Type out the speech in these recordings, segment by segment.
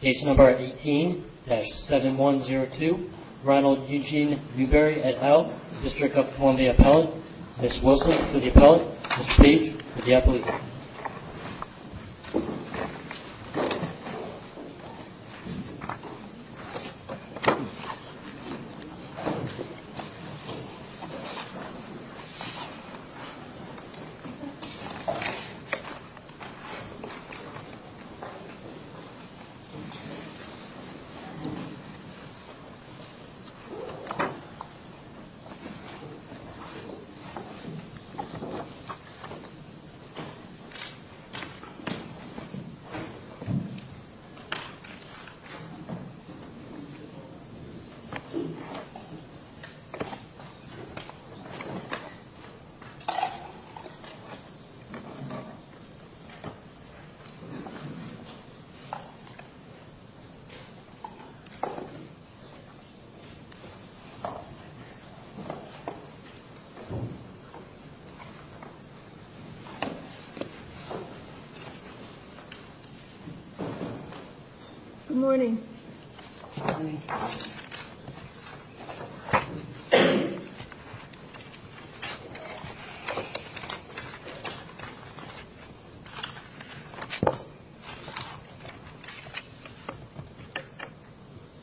Case number 18-7102, Ronald Eugene Dubery et al., District of Columbia Appellant. Ms. Wilson for the appellant, Mr. Page for the applicant. Good morning.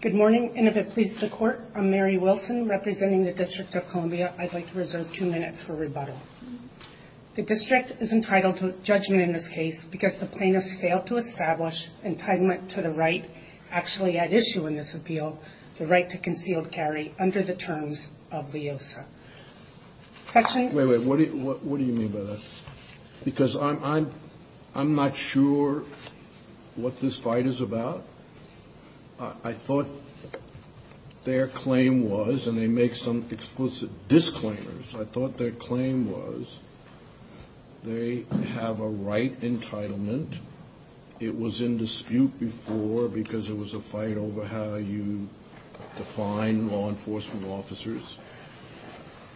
Good morning, and if it pleases the court, I'm Mary Wilson representing the District of Columbia. I'd like to reserve two minutes for rebuttal. The district is entitled to judgment in this case because the plaintiffs failed to establish entitlement to the right actually at issue in this appeal, the right to concealed carry under the terms of LEOSA. Wait, wait, what do you mean by that? Because I'm not sure what this fight is about. I thought their claim was, and they make some explicit disclaimers, I thought their claim was, they have a right entitlement, it was in dispute before because it was a fight over how you define law enforcement officers,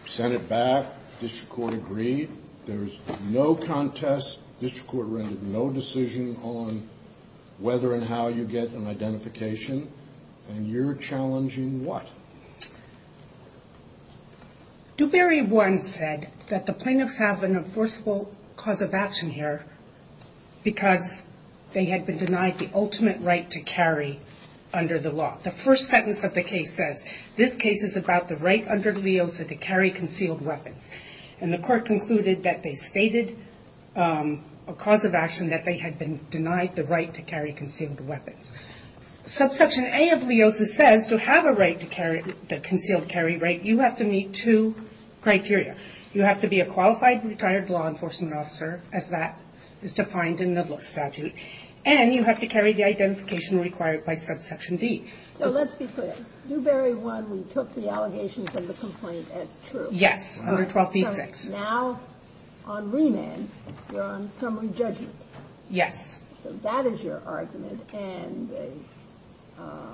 sent it back, district court agreed, there's no contest, district court rendered no decision on whether and how you get an identification, and you're challenging what? Dubarry 1 said that the plaintiffs have an enforceable cause of action here because they had been denied the ultimate right to carry under the law. The first sentence of the case says, this case is about the right under LEOSA to carry concealed weapons, and the court concluded that they stated a cause of action that they had been denied the right to carry concealed weapons. Subsection A of LEOSA says to have a right to carry, the concealed carry right, you have to meet two criteria. You have to be a qualified retired law enforcement officer, as that is defined in the NIDILSC statute, and you have to carry the identification required by subsection D. Ginsburg. So let's be clear, Dubarry 1, we took the allegations of the complaint as true. Yes, under 12b-6. Now, on remand, you're on summary judgment. Yes. So that is your argument, and the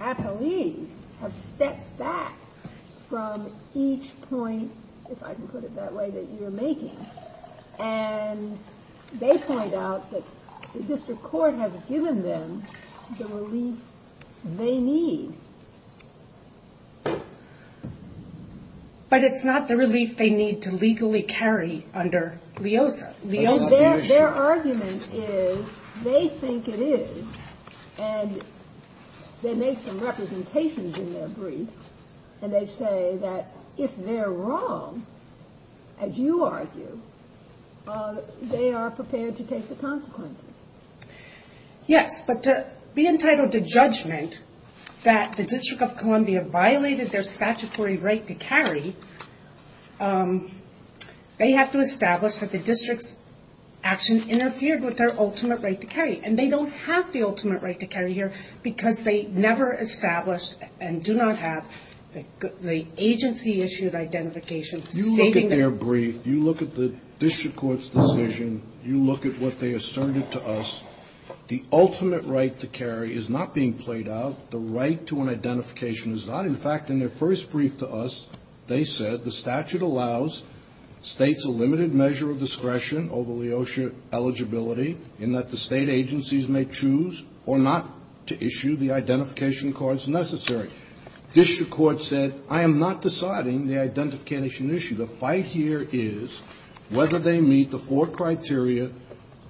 employees have stepped back from each point, if I can put it that way, that you're making, and they point out that the district court has given them the relief they need. But it's not the relief they need to legally carry under LEOSA. Their argument is, they think it is, and they make some representations in their brief, and they say that if they're wrong, as you argue, they are prepared to take the consequences. Yes, but to be entitled to judgment that the District of Columbia violated their statutory right to carry, they have to establish that the district's action interfered with their ultimate right to carry. And they don't have the ultimate right to carry here, because they never established and do not have the agency-issued identification stating that. You look at their brief. You look at the district court's decision. You look at what they asserted to us. The ultimate right to carry is not being played out. The right to an identification is not. In fact, in their first brief to us, they said the statute allows states a limited measure of discretion over LEOSA eligibility in that the state agencies may choose or not to issue the identification cards necessary. District court said, I am not deciding the identification issue. The fight here is whether they meet the four criteria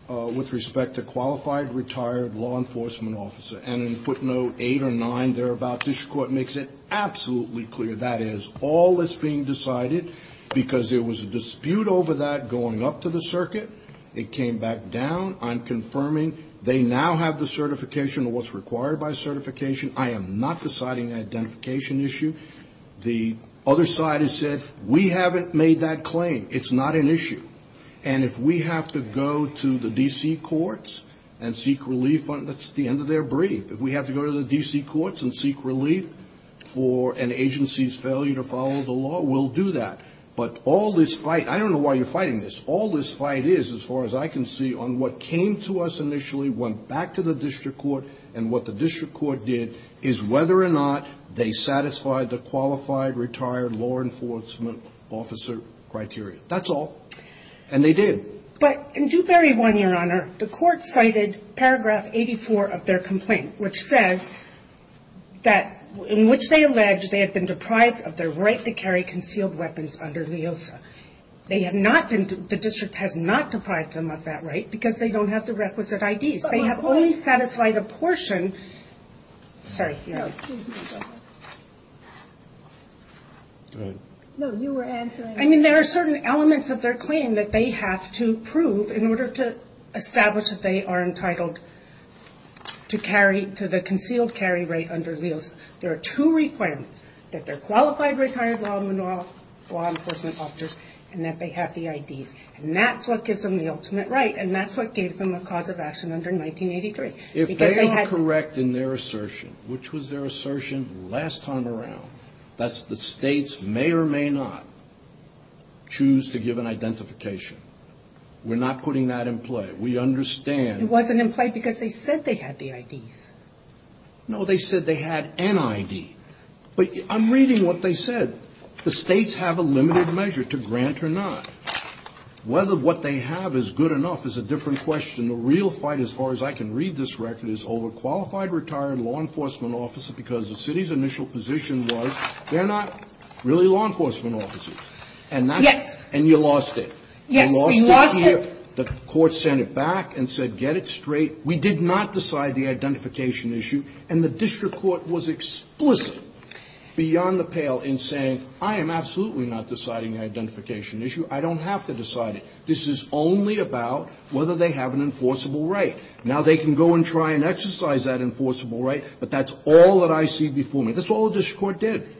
with respect to qualified, retired law enforcement officer. And in footnote eight or nine thereabout, district court makes it absolutely clear. That is all that's being decided, because there was a dispute over that going up to the circuit. It came back down. I'm confirming they now have the certification or what's required by certification. I am not deciding the identification issue. The other side has said, we haven't made that claim. It's not an issue. And if we have to go to the D.C. courts and seek relief, that's the end of their brief. If we have to go to the D.C. courts and seek relief for an agency's failure to follow the law, we'll do that. But all this fight, I don't know why you're fighting this. All this fight is, as far as I can see, on what came to us initially, went back to the district court. And what the district court did is whether or not they satisfied the qualified, retired law enforcement officer criteria. That's all. And they did. But in Dewberry 1, Your Honor, the court cited paragraph 84 of their complaint, which says that, in which they allege they have been deprived of their right to carry concealed weapons under LEOSA. They have not been, the district has not deprived them of that right, because they don't have the requisite IDs. They have only satisfied a portion, sorry. No, you were answering. I mean, there are certain elements of their claim that they have to prove in order to establish that they are entitled to carry, to the concealed carry rate under LEOSA. There are two requirements. That they're qualified retired law enforcement officers, and that they have the IDs. And that's what gives them the ultimate right, and that's what gave them a cause of action under 1983. If they are correct in their assertion, which was their assertion last time around, that's the state's may or may not choose to give an identification. We're not putting that in play. We understand. It wasn't in play because they said they had the IDs. No, they said they had an ID. But I'm reading what they said. The states have a limited measure to grant or not. Whether what they have is good enough is a different question. The real fight, as far as I can read this record, is over qualified retired law enforcement officers because the city's initial position was, they're not really law enforcement officers. And that's- Yes. And you lost it. Yes, we lost it. The court sent it back and said, get it straight. We did not decide the identification issue. And the district court was explicit beyond the pale in saying, I am absolutely not deciding the identification issue. I don't have to decide it. This is only about whether they have an enforceable right. Now they can go and try and exercise that enforceable right. But that's all that I see before me. That's all the district court did.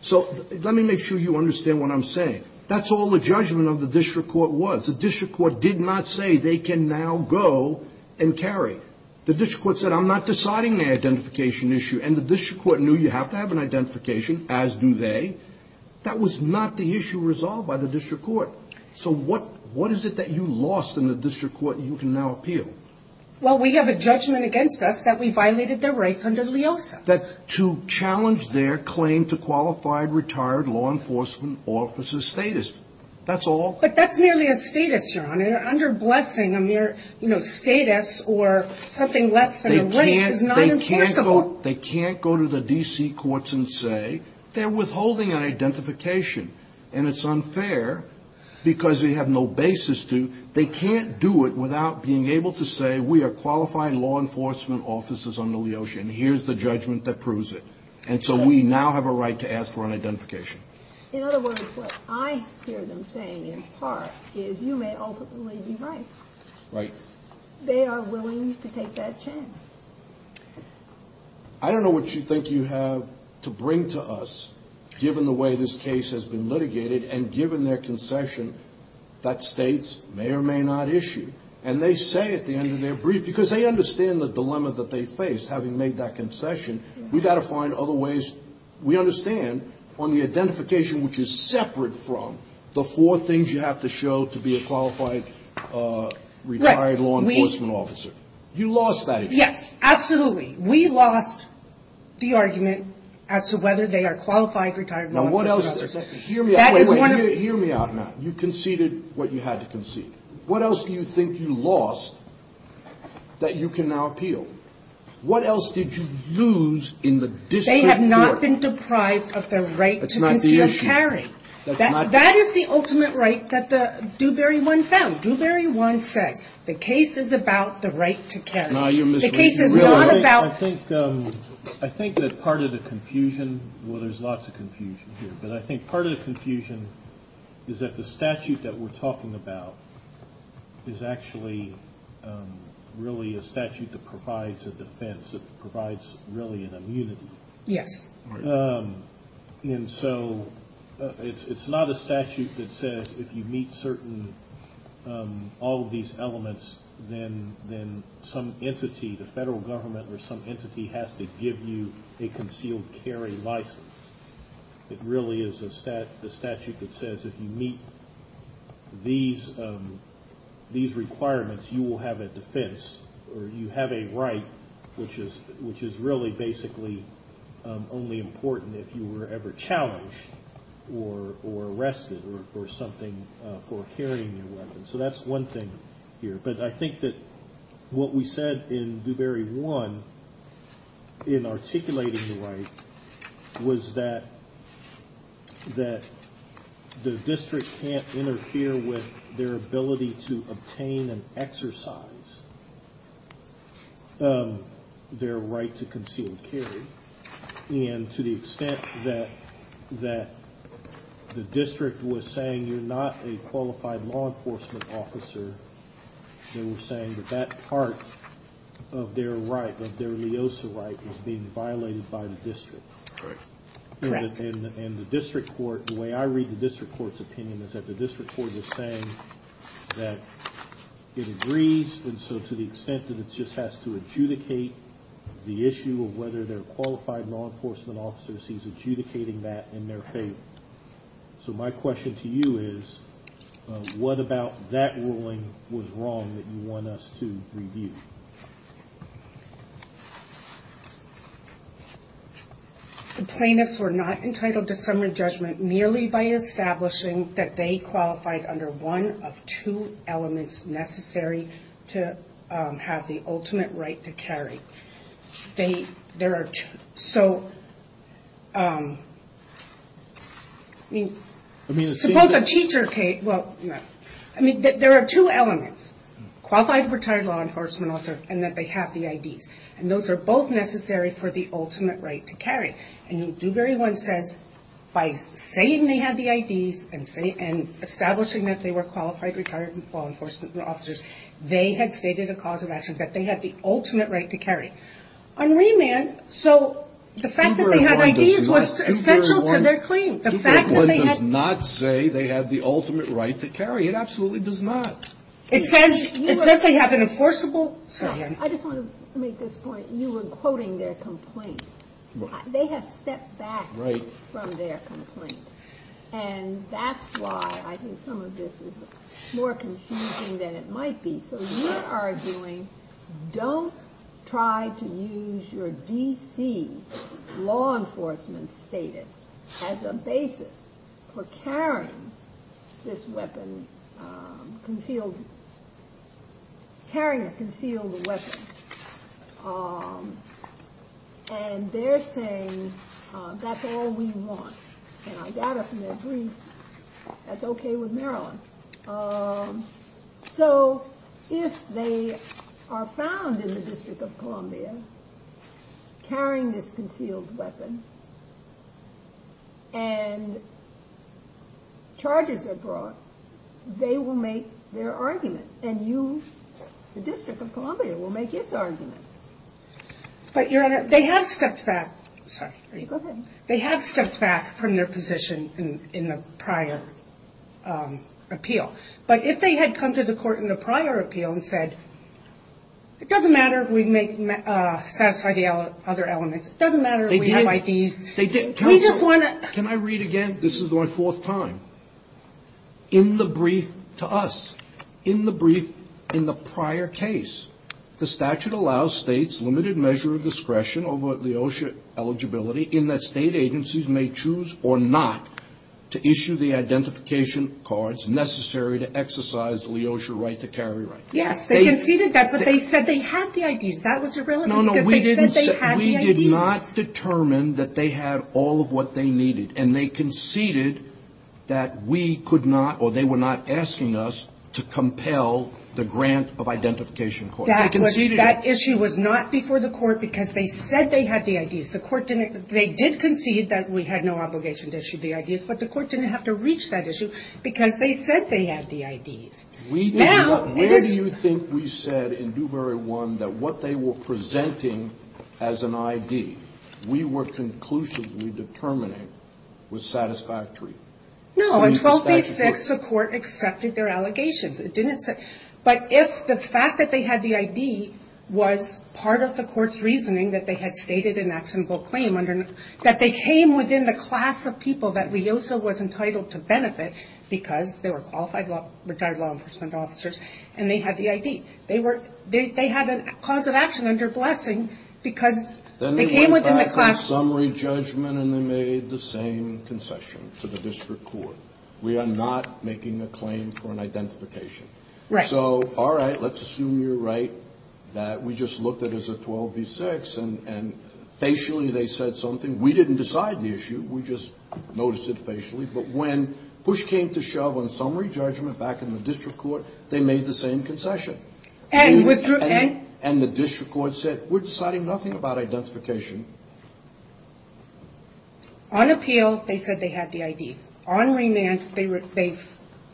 So let me make sure you understand what I'm saying. That's all the judgment of the district court was. The district court did not say they can now go and carry. The district court said, I'm not deciding the identification issue. And the district court knew you have to have an identification, as do they. That was not the issue resolved by the district court. So what is it that you lost in the district court you can now appeal? Well, we have a judgment against us that we violated their rights under LEOSA. That to challenge their claim to qualified retired law enforcement officer status. That's all. But that's merely a status, your honor. Under blessing, a mere status or something less than a right is not enforceable. They can't go to the DC courts and say, they're withholding an identification. And it's unfair because they have no basis to. They can't do it without being able to say, we are qualified law enforcement officers under LEOSA. And here's the judgment that proves it. And so we now have a right to ask for an identification. In other words, what I hear them saying in part is, you may ultimately be right. Right. They are willing to take that chance. I don't know what you think you have to bring to us, given the way this case has been litigated and given their concession that states may or may not issue. And they say at the end of their brief, because they understand the dilemma that they face, having made that concession, we've got to find other ways. We understand on the identification which is separate from the four things you have to show to be a qualified retired law enforcement officer. You lost that issue. Yes, absolutely. We lost the argument as to whether they are qualified retired law enforcement officers. Hear me out now. You conceded what you had to concede. What else do you think you lost that you can now appeal? What else did you lose in the district court? They have not been deprived of their right to conceal and carry. That is the ultimate right that the Dewberry One found. Dewberry One says, the case is about the right to carry. Now you're misreading it. The case is not about- I think that part of the confusion, well, there's lots of confusion here. But I think part of the confusion is that the statute that we're talking about is actually really a statute that provides a defense, that provides really an immunity. Yes. And so it's not a statute that says if you meet certain, all of these elements, then some entity, the federal government or some entity, has to give you a concealed carry license. It really is a statute that says if you meet these requirements, you will have a defense, or you have a right, which is really basically only important if you were ever challenged or arrested or something for carrying a weapon. So that's one thing here. But I think that what we said in Dewberry One, in articulating the right, was that the district can't interfere with their ability to obtain and exercise their right to concealed carry. And to the extent that the district was saying, you're not a qualified law enforcement officer, they were saying that that part of their right, of their LEOSA right, was being violated by the district. Correct. And the district court, the way I read the district court's opinion, is that the district court was saying that it agrees, and so to the extent that it just has to adjudicate the issue of whether they're qualified law enforcement officers, he's adjudicating that in their favor. So my question to you is, what about that ruling was wrong that you want us to review? The plaintiffs were not entitled to summary judgment merely by establishing that they qualified under one of two elements necessary to have the ultimate right to carry. They, there are two. So, I mean, suppose a teacher can't, well, no. I mean, there are two elements. Qualified retired law enforcement officer, and that they have the IDs. And those are both necessary for the ultimate right to carry. And Dewberry One says, by saying they have the IDs, and establishing that they were qualified retired law enforcement officers, they had stated a cause of action that they had the ultimate right to carry. On remand, so the fact that they had IDs was essential to their claim. The fact that they had- Dewberry One does not say they have the ultimate right to carry. It absolutely does not. It says, it says they have an enforceable. I just want to make this point. You were quoting their complaint. They have stepped back from their complaint. And that's why I think some of this is more confusing than it might be. So, you are arguing, don't try to use your DC law enforcement status as a basis for carrying this weapon, concealed, carrying a concealed weapon. And they're saying, that's all we want. And I gather from their brief, that's okay with Maryland. So, if they are found in the District of Columbia, carrying this concealed weapon, and charges are brought, they will make their argument. And you, the District of Columbia, will make its argument. But Your Honor, they have stepped back. Sorry. Go ahead. They have stepped back from their position in the prior appeal. But if they had come to the court in the prior appeal and said, it doesn't matter if we satisfy the other elements. It doesn't matter if we have IDs. They didn't. We just want to- Can I read again? This is my fourth time. In the brief to us, in the brief in the prior case, the statute allows states limited measure of discretion over Leosha eligibility, in that state agencies may choose or not to issue the identification cards necessary to exercise Leosha right to carry right. Yes, they conceded that, but they said they had the IDs. That was irrelevant, because they said they had the IDs. No, no, we did not determine that they had all of what they needed. And they conceded that we could not, or they were not asking us to compel the grant of identification cards. That issue was not before the court, because they said they had the IDs. The court didn't, they did concede that we had no obligation to issue the IDs, but the court didn't have to reach that issue, because they said they had the IDs. We did not, where do you think we said in Dewberry 1 that what they were presenting as an ID we were conclusively determining was satisfactory? No, in 1286 the court accepted their allegations. It didn't say, but if the fact that they had the ID was part of the court's reasoning that they had stated an actionable claim under, that they came within the class of people that Leosha was entitled to benefit, because they were qualified law, retired law enforcement officers, and they had the ID. They were, they had a cause of action under blessing, because they came within the class. Summary judgment, and they made the same concession to the district court. We are not making a claim for an identification. So, all right, let's assume you're right, that we just looked at it as a 1286, and facially they said something. We didn't decide the issue, we just noticed it facially, but when push came to shove on summary judgment back in the district court, they made the same concession. And the district court said, we're deciding nothing about identification. On appeal, they said they had the IDs. On remand, they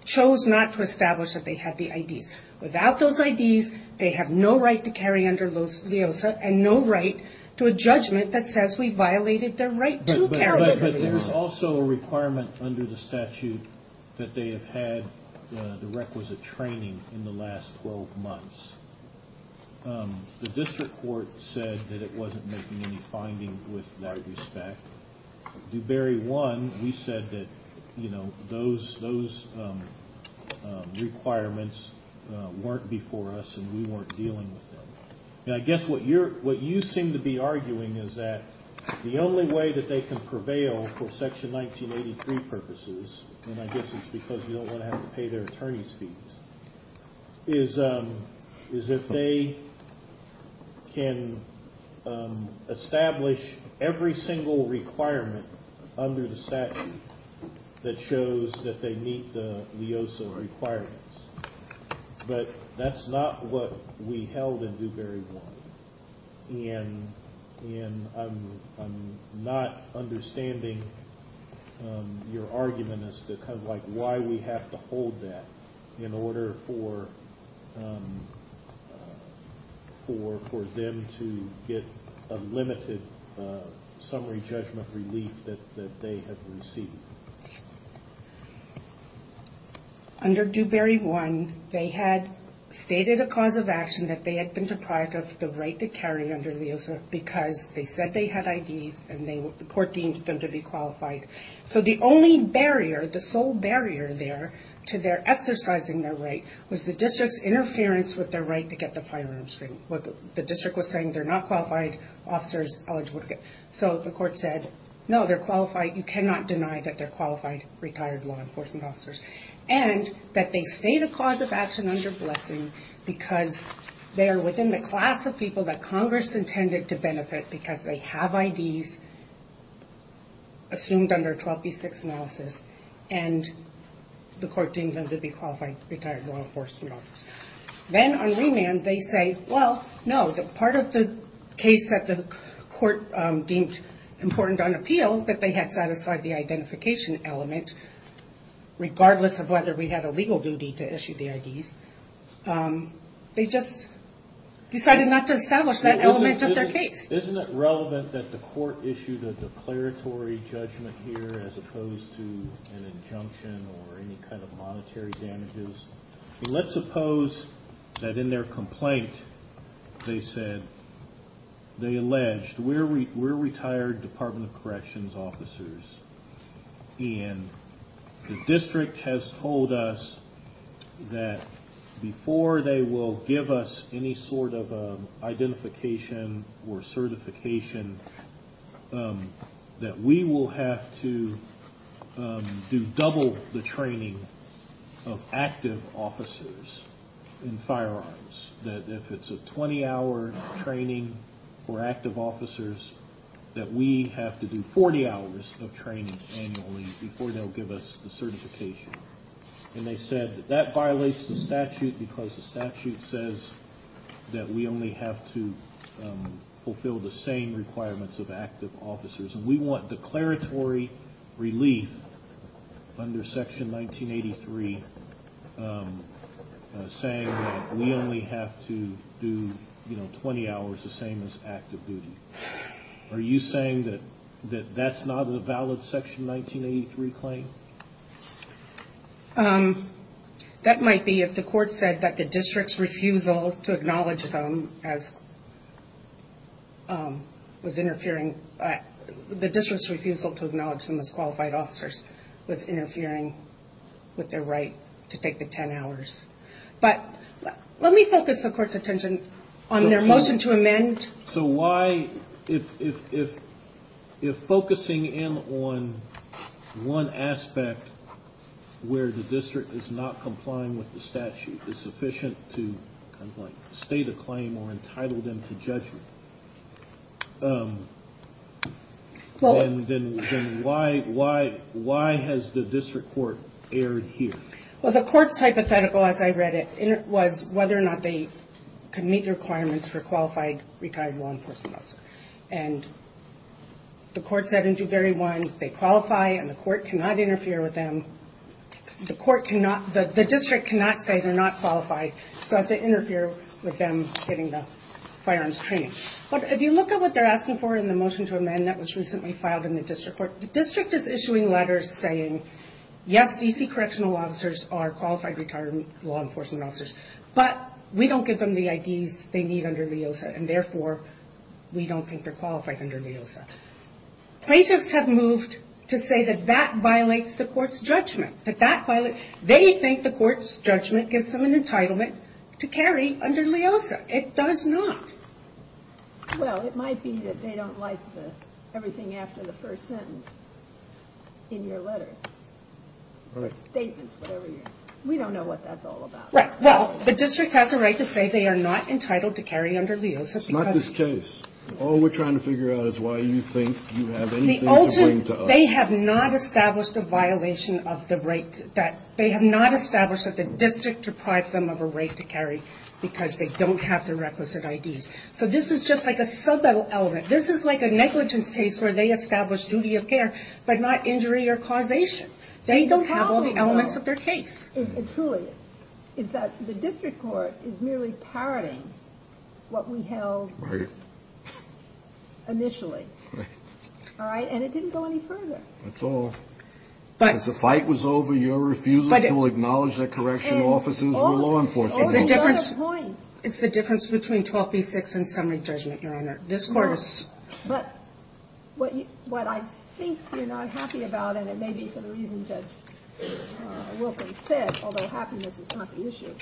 chose not to establish that they had the IDs. Without those IDs, they have no right to carry under Leosha, and no right to a judgment that says we violated their right to carry under Leosha. But there's also a requirement under the statute that they have had the requisite training in the last 12 months. The district court said that it wasn't making any finding with that respect. Dubarry 1, we said that those requirements weren't before us, and we weren't dealing with them. And I guess what you seem to be arguing is that the only way that they can prevail for section 1983 purposes, and I guess it's because you don't want to have to pay their attorney's fees, is if they can establish every single requirement under the statute that shows that they meet the Leosha requirements. But that's not what we held in Dubarry 1. And I'm not understanding your argument as to kind of like why we have to hold that in order for them to get a limited summary judgment relief that they have received. Under Dubarry 1, they had stated a cause of action that they had been deprived of the right to carry under Leosha because they said they had IDs and the court deemed them to be qualified. So the only barrier, the sole barrier there to their exercising their right, was the district's interference with their right to get the firearms training. What the district was saying, they're not qualified officers eligible to get. So the court said, no, they're qualified. You cannot deny that they're qualified retired law enforcement officers. And that they stay the cause of action under blessing because they're within the class of people that Congress intended to benefit because they have IDs assumed under 12B6 analysis. And the court deemed them to be qualified retired law enforcement officers. Then on remand, they say, well, no, part of the case that the court deemed important on appeal, that they had satisfied the identification element regardless of whether we had a legal duty to issue the IDs. They just decided not to establish that element of their case. Isn't it relevant that the court issued a declaratory judgment here as opposed to an injunction or any kind of monetary damages? Let's suppose that in their complaint, they said, they alleged, we're retired Department of Corrections officers. And the district has told us that before they will give us any sort of identification or certification, that we will have to do double the training of active officers in firearms. That if it's a 20 hour training for active officers, that we have to do 40 hours of training annually before they'll give us the certification. And they said that that violates the statute because the statute says that we only have to fulfill the same requirements of active officers. And we want declaratory relief under section 1983, saying that we only have to do 20 hours, the same as active duty. Are you saying that that's not a valid section 1983 claim? That might be if the court said that the district's refusal to acknowledge them as was interfering, the district's refusal to acknowledge them as qualified officers was interfering with their right to take the 10 hours. But let me focus the court's attention on their motion to amend. So why, if focusing in on one aspect where the district is not complying with the statute is sufficient to kind of like state a claim or entitle them to judge you. Well, then why has the district court erred here? Well, the court's hypothetical, as I read it, was whether or not they could meet the requirements for qualified retired law enforcement officers. And the court said in Dewberry 1, they qualify and the court cannot interfere with them. The court cannot, the district cannot say they're not qualified, so as to interfere with them getting the firearms training. But if you look at what they're asking for in the motion to amend that was recently filed in the district court, the district is issuing letters saying, yes DC correctional officers are qualified retired law enforcement officers, but we don't give them the IDs they need under LEOSA and therefore we don't think they're qualified under LEOSA. Plaintiffs have moved to say that that violates the court's judgment, that that violates, they think the court's judgment gives them an entitlement to carry under LEOSA. It does not. Well, it might be that they don't like everything after the first sentence in your letters. All right. Statements, whatever you're, we don't know what that's all about. Right. Well, the district has a right to say they are not entitled to carry under LEOSA because. It's not this case. All we're trying to figure out is why you think you have anything to bring to us. They have not established a violation of the right that, they have not established that the district deprived them of a right to carry because they don't have the requisite IDs. So, this is just like a sub-element. This is like a negligence case where they establish duty of care, but not injury or causation. They don't have all the elements of their case. It truly is that the district court is merely parroting what we held initially. Right. All right. And it didn't go any further. That's all. As the fight was over, you're refusing to acknowledge that correctional officers were law enforcers. It's the difference between 12 v. 6 and summary judgment, Your Honor. This court is. But what I think you're not happy about, and it may be for the reason Judge Wilkins said, although happiness is not the issue,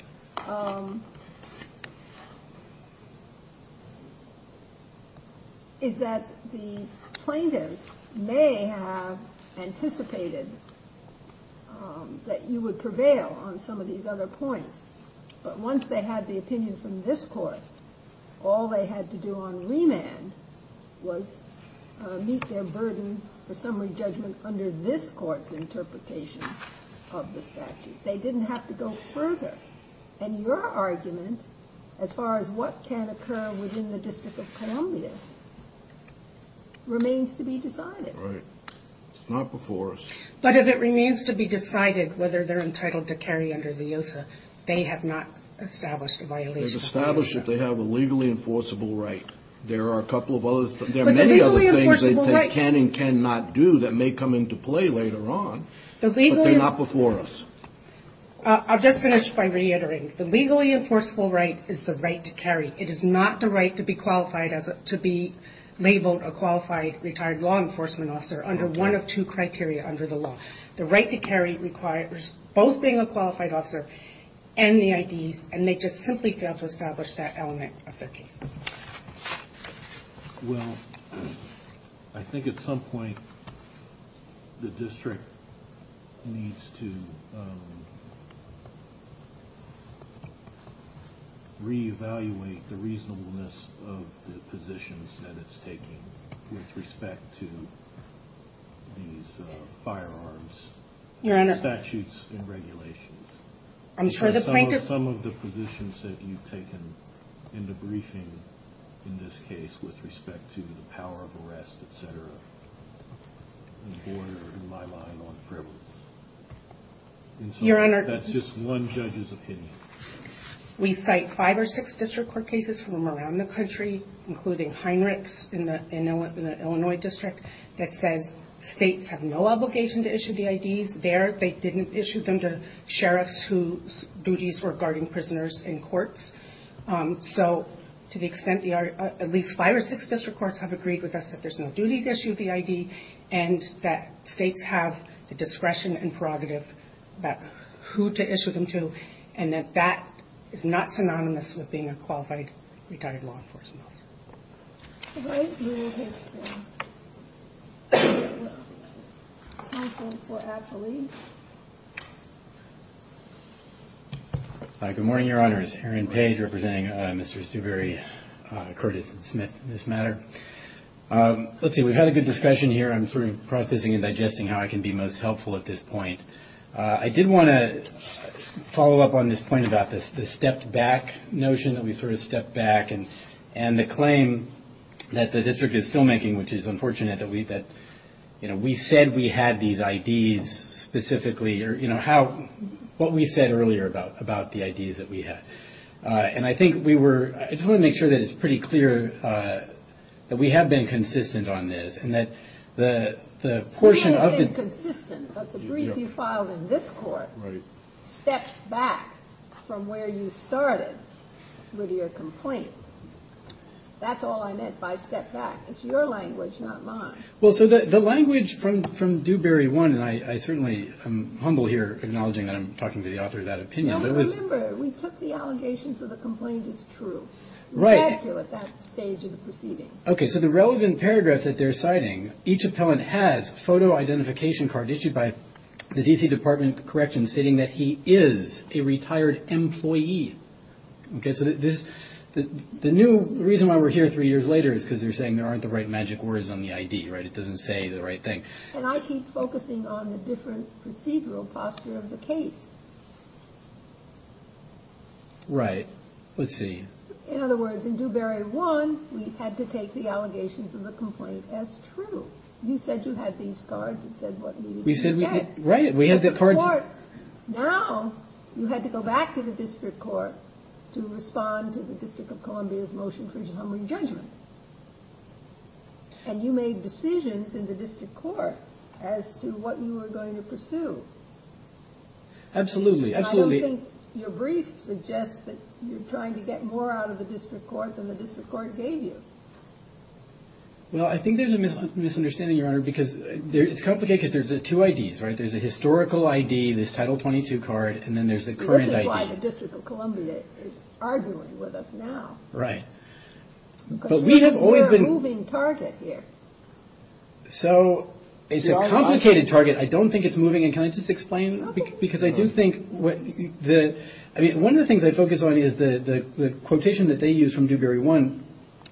is that the plaintiffs may have anticipated that you would prevail on some of these other points. But once they had the opinion from this court, all they had to do on remand was meet their burden for summary judgment under this court's interpretation of the statute. They didn't have to go further. And your argument, as far as what can occur within the District of Columbia, remains to be decided. Right. It's not before us. But if it remains to be decided whether they're entitled to carry under LEOSA, they have not established a violation. They've established that they have a legally enforceable right. There are a couple of other things they can and cannot do that may come into play later on. But they're not before us. I'll just finish by reiterating. The legally enforceable right is the right to carry. It is not the right to be qualified as to be labeled a qualified retired law enforcement officer under one of two criteria under the law. The right to carry requires both being a qualified officer and the IDs, and they just simply fail to establish that element of their case. Well, I think at some point the district needs to re-evaluate the reasonableness of the positions that it's taking with respect to these firearms statutes and regulations. Some of the positions that you've taken in the briefing in this case with respect to the power of arrest, et cetera, border, in my mind, on privilege. Your Honor. That's just one judge's opinion. We cite five or six district court cases from around the country, including Heinrichs in the Illinois district, that says states have no obligation to issue the IDs. There, they didn't issue them to sheriffs whose duties were guarding prisoners in courts. So to the extent there are at least five or six district courts have agreed with us that there's no duty to issue the ID, and that states have the discretion and prerogative about who to issue them to, and that that is not synonymous with being a qualified retired law enforcement officer. All right. Good morning, Your Honors. Aaron Page representing Mr. Stubery, Curtis, and Smith in this matter. Let's see. We've had a good discussion here. I'm sort of processing and digesting how I can be most helpful at this point. I did want to follow up on this point about the stepped-back notion, that we sort of stepped back, and the claim that the district is still making, which is unfortunate, that we said we had these IDs specifically, or what we said earlier about the IDs that we had. And I think we were – I just want to make sure that it's pretty clear that we have been consistent on this and that the portion of the – Right. That's all I meant by stepped back. It's your language, not mine. Well, so the language from Dubery 1 – and I certainly am humble here, acknowledging that I'm talking to the author of that opinion. Well, remember, we took the allegation, so the complaint is true. Right. We had to at that stage of the proceedings. Okay, so the relevant paragraph that they're citing, each appellant has a photo identification card issued by the D.C. Department of Corrections stating that he is a retired employee. Okay, so this – the new – the reason why we're here three years later is because they're saying there aren't the right magic words on the ID, right? It doesn't say the right thing. And I keep focusing on the different procedural posture of the case. Right. Let's see. In other words, in Dubery 1, we had to take the allegations of the complaint as true. You said you had these cards. It said what needed to be said. Right. We had the cards. Now you had to go back to the district court to respond to the District of Columbia's motion for humbling judgment. And you made decisions in the district court as to what you were going to pursue. Absolutely, absolutely. I don't think your brief suggests that you're trying to get more out of the district court than the district court gave you. Well, I think there's a misunderstanding, Your Honor, because it's complicated because there's two IDs, right? There's a historical ID, this Title 22 card, and then there's a current ID. So this is why the District of Columbia is arguing with us now. Right. Because we're a moving target here. So it's a complicated target. I don't think it's moving. And can I just explain? Because I do think the one of the things I focus on is the quotation that they use from Dubery 1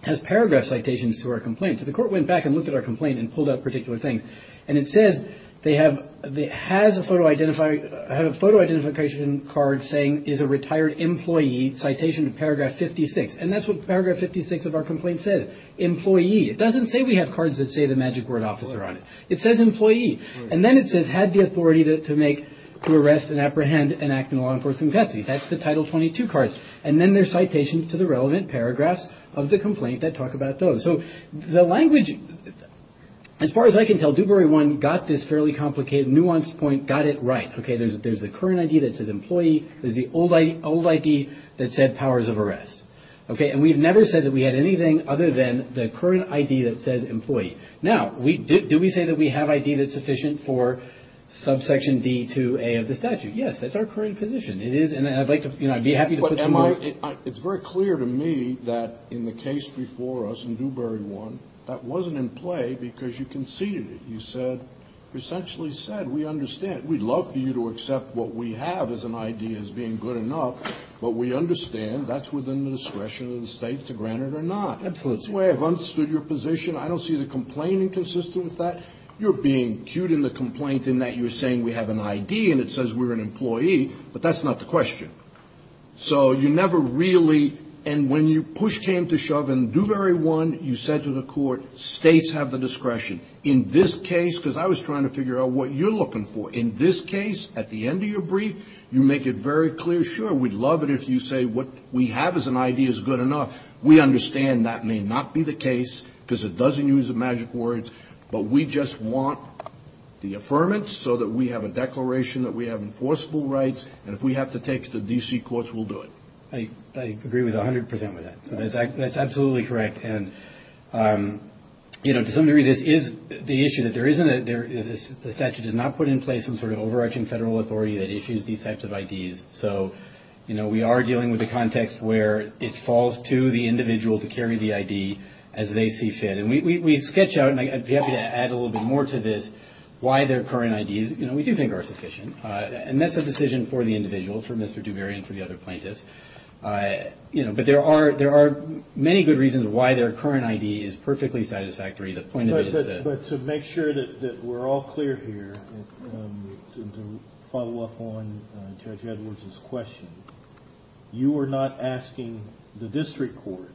has paragraph citations to our complaint. So the court went back and looked at our complaint and pulled out particular things. And it says they have a photo identification card saying is a retired employee citation to paragraph 56. And that's what paragraph 56 of our complaint says, employee. It doesn't say we have cards that say the magic word officer on it. It says employee. And then it says had the authority to make, to arrest, and apprehend, and act in law enforcement custody. That's the Title 22 cards. And then there's citations to the relevant paragraphs of the complaint that talk about those. So the language, as far as I can tell, Dubery 1 got this fairly complicated, nuanced point, got it right. Okay. There's the current ID that says employee. There's the old ID that said powers of arrest. Okay. And we've never said that we had anything other than the current ID that says employee. Now, do we say that we have ID that's sufficient for subsection D to A of the statute? Yes. That's our current position. It is, and I'd like to, you know, I'd be happy to put some more. It's very clear to me that in the case before us in Dubery 1, that wasn't in play because you conceded it. You said, essentially said we understand. We'd love for you to accept what we have as an ID as being good enough, but we understand that's within the discretion of the State to grant it or not. Absolutely. That's the way I've understood your position. I don't see the complaining consistent with that. You're being cute in the complaint in that you're saying we have an ID and it says we're an employee, but that's not the question. So you never really, and when you push came to shove in Dubery 1, you said to the court, States have the discretion. In this case, because I was trying to figure out what you're looking for, in this case, at the end of your brief, you make it very clear, sure, we'd love it if you say what we have as an ID is good enough. We understand that may not be the case because it doesn't use the magic words, but we just want the affirmance so that we have a declaration that we have enforceable rights, and if we have to take it to D.C. courts, we'll do it. I agree 100 percent with that. That's absolutely correct. And, you know, to some degree, this is the issue that there isn't a statute that's not put in place, some sort of overarching federal authority that issues these types of IDs. So, you know, we are dealing with a context where it falls to the individual to carry the ID as they see fit. And we sketch out, and I'd be happy to add a little bit more to this, why their current ID is, you know, we do think are sufficient, and that's a decision for the individual, for Mr. Dubery and for the other plaintiffs. You know, but there are many good reasons why their current ID is perfectly satisfactory. But to make sure that we're all clear here, to follow up on Judge Edwards' question, you are not asking the district court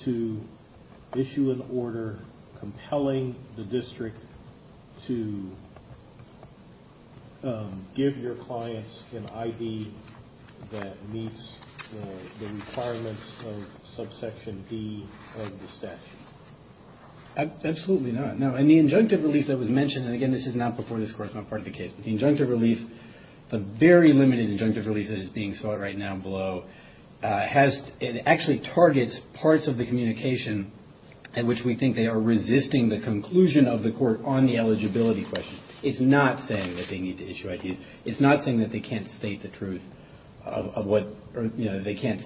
to issue an order compelling the district to give your clients an ID that meets the requirements of subsection D of the statute. Absolutely not. No, and the injunctive relief that was mentioned, and again, this is not before this court. It's not part of the case. But the injunctive relief, the very limited injunctive relief that is being sought right now below, it actually targets parts of the communication in which we think they are resisting the conclusion of the court on the eligibility question. It's not saying that they need to issue IDs. It's not saying that they can't state the truth of what, you know, they can't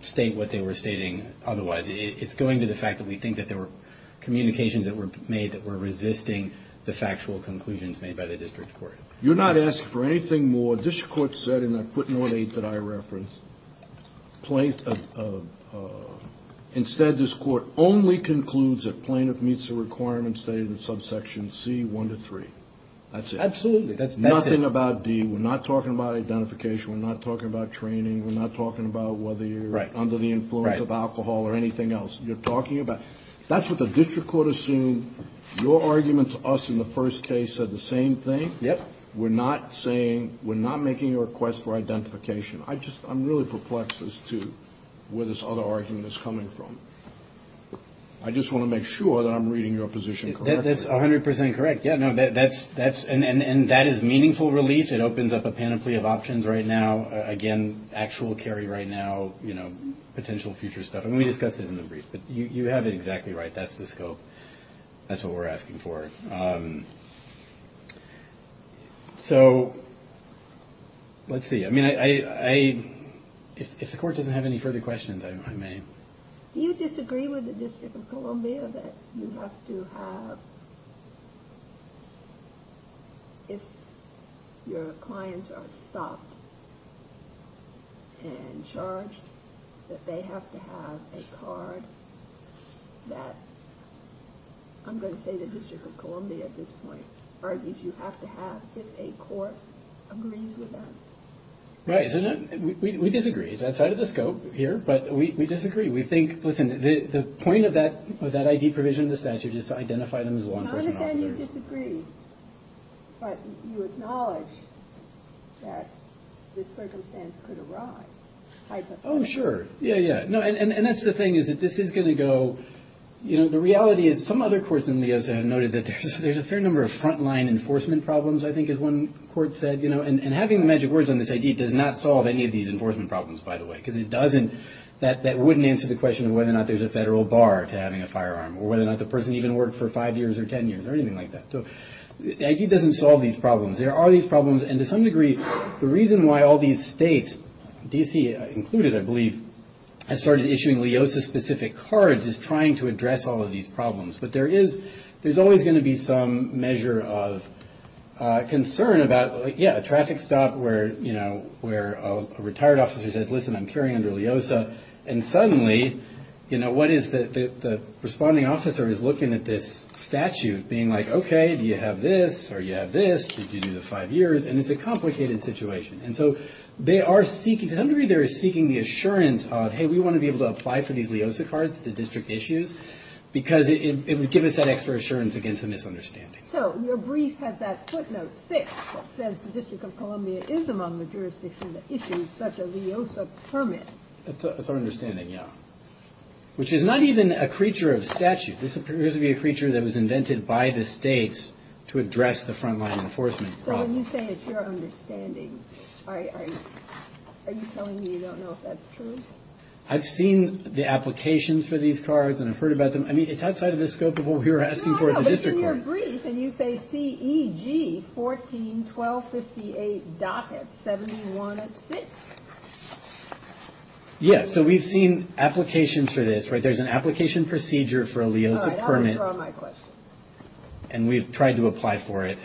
state what they were stating otherwise. It's going to the fact that we think that there were communications that were made that were resisting the factual conclusions made by the district court. You're not asking for anything more. This court said in a footnote 8 that I referenced, instead this court only concludes that plaintiff meets the requirements stated in subsection C1 to 3. That's it. Nothing about D. We're not talking about identification. We're not talking about training. We're not talking about whether you're under the influence of alcohol or anything else. You're talking about, that's what the district court assumed. Your argument to us in the first case said the same thing. Yep. We're not saying, we're not making a request for identification. I just, I'm really perplexed as to where this other argument is coming from. I just want to make sure that I'm reading your position correctly. That's 100% correct. Yeah, no, that's, and that is meaningful relief. It opens up a panoply of options right now. Again, actual carry right now, you know, potential future stuff. And we discussed this in the brief, but you have it exactly right. That's the scope. That's what we're asking for. So, let's see. I mean, I, if the court doesn't have any further questions, I may. Do you disagree with the District of Columbia that you have to have, if your clients are stopped and charged, that they have to have a card that, I'm going to say the District of Columbia at this point, argues you have to have, if a court agrees with that? Right. We disagree. It's outside of the scope here, but we disagree. We think, listen, the point of that ID provision of the statute is to identify them as law enforcement officers. Not that you disagree, but you acknowledge that this circumstance could arise, type of thing. Oh, sure. Yeah, yeah. No, and that's the thing, is that this is going to go, you know, the reality is, some other courts in Leosa have noted that there's a fair number of front-line enforcement problems, I think is one court said, you know. And having the magic words on this ID does not solve any of these enforcement problems, by the way, because it doesn't, that wouldn't answer the question of whether or not there's a federal bar to having a firearm, or whether or not the person even worked for five years or ten years, or anything like that. So the ID doesn't solve these problems. There are these problems, and to some degree, the reason why all these states, D.C. included, I believe, has started issuing Leosa-specific cards is trying to address all of these problems. But there is, there's always going to be some measure of concern about, yeah, a traffic stop where, you know, where a retired officer says, listen, I'm carrying under Leosa, and suddenly, you know, what is the responding officer is looking at this statute being like, okay, do you have this, or you have this, did you do the five years, and it's a complicated situation. And so they are seeking, to some degree, they are seeking the assurance of, hey, we want to be able to apply for these Leosa cards at the district issues, because it would give us that extra assurance against a misunderstanding. So your brief has that footnote six that says the District of Columbia is among the jurisdictions that issues such a Leosa permit. That's our understanding, yeah. Which is not even a creature of statute. This appears to be a creature that was invented by the states to address the frontline enforcement problem. So when you say it's your understanding, are you telling me you don't know if that's true? I've seen the applications for these cards, and I've heard about them. I mean, it's outside of the scope of what we were asking for at the district level. No, no, but in your brief, and you say C-E-G 14-12-58. It's 71 at 6. Yeah, so we've seen applications for this, right? There's an application procedure for a Leosa permit. All right, I'll withdraw my question. And we've tried to apply for it.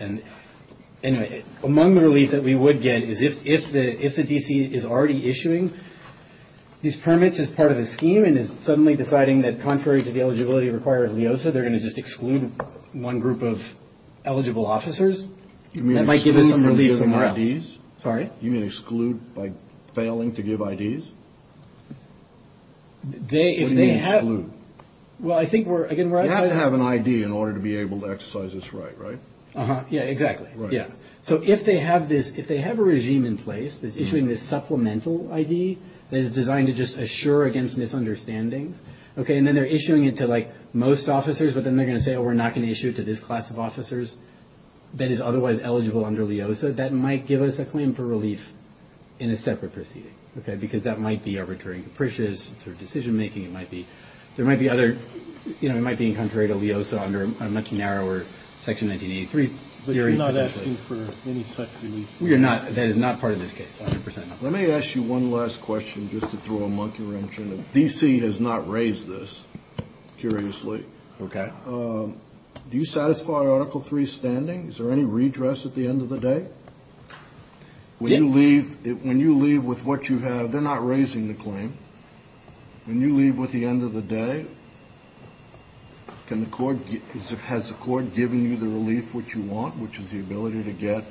Anyway, among the relief that we would get is if the D.C. is already issuing these permits as part of a scheme and is suddenly deciding that contrary to the eligibility required of Leosa, they're going to just exclude one group of eligible officers, that might give us some relief somewhere else. You mean exclude by failing to give IDs? What do you mean exclude? Well, I think we're, again, right. You have to have an ID in order to be able to exercise this right, right? Yeah, exactly. Yeah. So if they have this, if they have a regime in place that's issuing this supplemental ID that is designed to just assure against misunderstandings, and then they're issuing it to like most officers, but then they're going to say, oh, we're not going to issue it to this class of officers that is otherwise eligible under Leosa, that might give us a claim for relief in a separate proceeding, because that might be arbitrary and capricious through decision making. There might be other, you know, it might be contrary to Leosa under a much narrower Section 1983. But you're not asking for any such relief? That is not part of this case, 100%. Let me ask you one last question just to throw a monkey wrench in it. D.C. has not raised this, curiously. Okay. Do you satisfy Article III standing? Is there any redress at the end of the day? When you leave with what you have, they're not raising the claim. When you leave with the end of the day, can the court get, has the court given you the relief which you want, which is the ability to get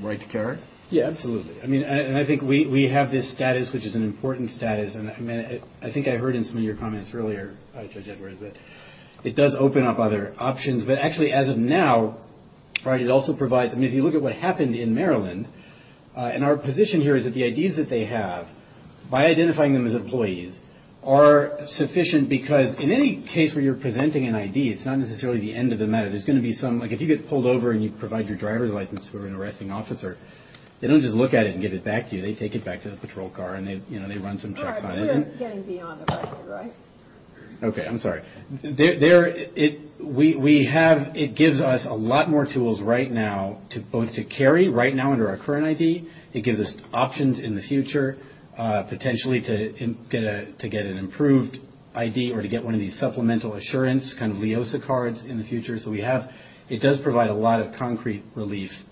right to carry? Yeah, absolutely. I mean, and I think we have this status, which is an important status, and I think I heard in some of your comments earlier, Judge Edwards, that it does open up other options. But actually, as of now, right, it also provides, I mean, if you look at what happened in Maryland, and our position here is that the IDs that they have, by identifying them as employees, are sufficient because in any case where you're presenting an ID, it's not necessarily the end of the matter. There's going to be some, like if you get pulled over and you provide your driver's license for an arresting officer, they don't just look at it and give it back to you. They take it back to the patrol car and they run some checks on it. All right, but we're getting beyond the record, right? Okay, I'm sorry. There, we have, it gives us a lot more tools right now, both to carry right now under our current ID. It gives us options in the future, potentially to get an improved ID or to get one of these supplemental assurance kind of LEOSA cards in the future. So we have, it does provide a lot of concrete relief.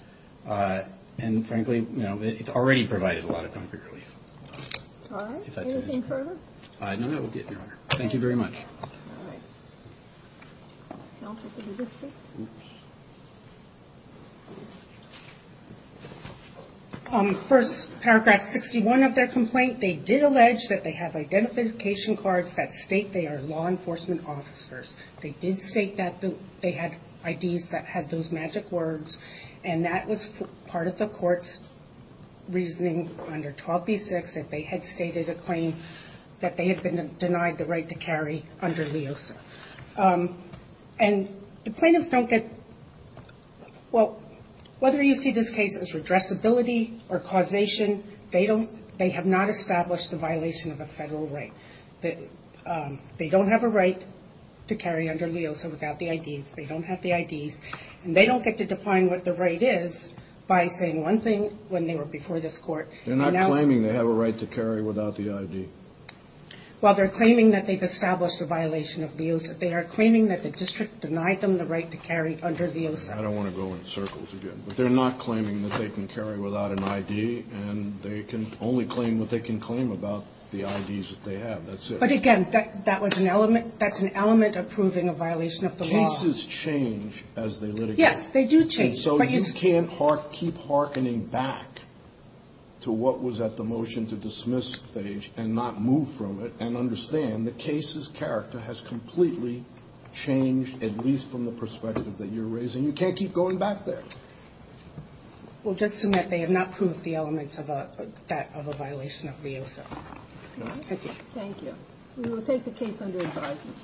And frankly, you know, it's already provided a lot of concrete relief. All right, anything further? Thank you very much. First, paragraph 61 of their complaint, they did allege that they have identification cards that state they are law enforcement officers. They did state that they had IDs that had those magic words and that was part of the court's reasoning under 12B6 that they had stated a claim that they had been denied the right to carry under LEOSA. And the plaintiffs don't get, well, whether you see this case as redressability or causation, they don't, they have not established the violation of a federal right. They don't have a right to carry under LEOSA without the IDs. And they don't get to define what the right is by saying one thing when they were before this court. They're not claiming they have a right to carry without the ID. Well, they're claiming that they've established a violation of LEOSA. They are claiming that the district denied them the right to carry under LEOSA. I don't want to go in circles again. But they're not claiming that they can carry without an ID and they can only claim what they can claim about the IDs that they have. That's it. But again, that was an element, that's an element of proving a violation of the law. But the cases change as they litigate. Yes, they do change. And so you can't keep hearkening back to what was at the motion to dismiss stage and not move from it and understand the case's character has completely changed, at least from the perspective that you're raising. You can't keep going back there. We'll just submit they have not proved the elements of a violation of LEOSA. Thank you. Thank you. We will take the case under advisement.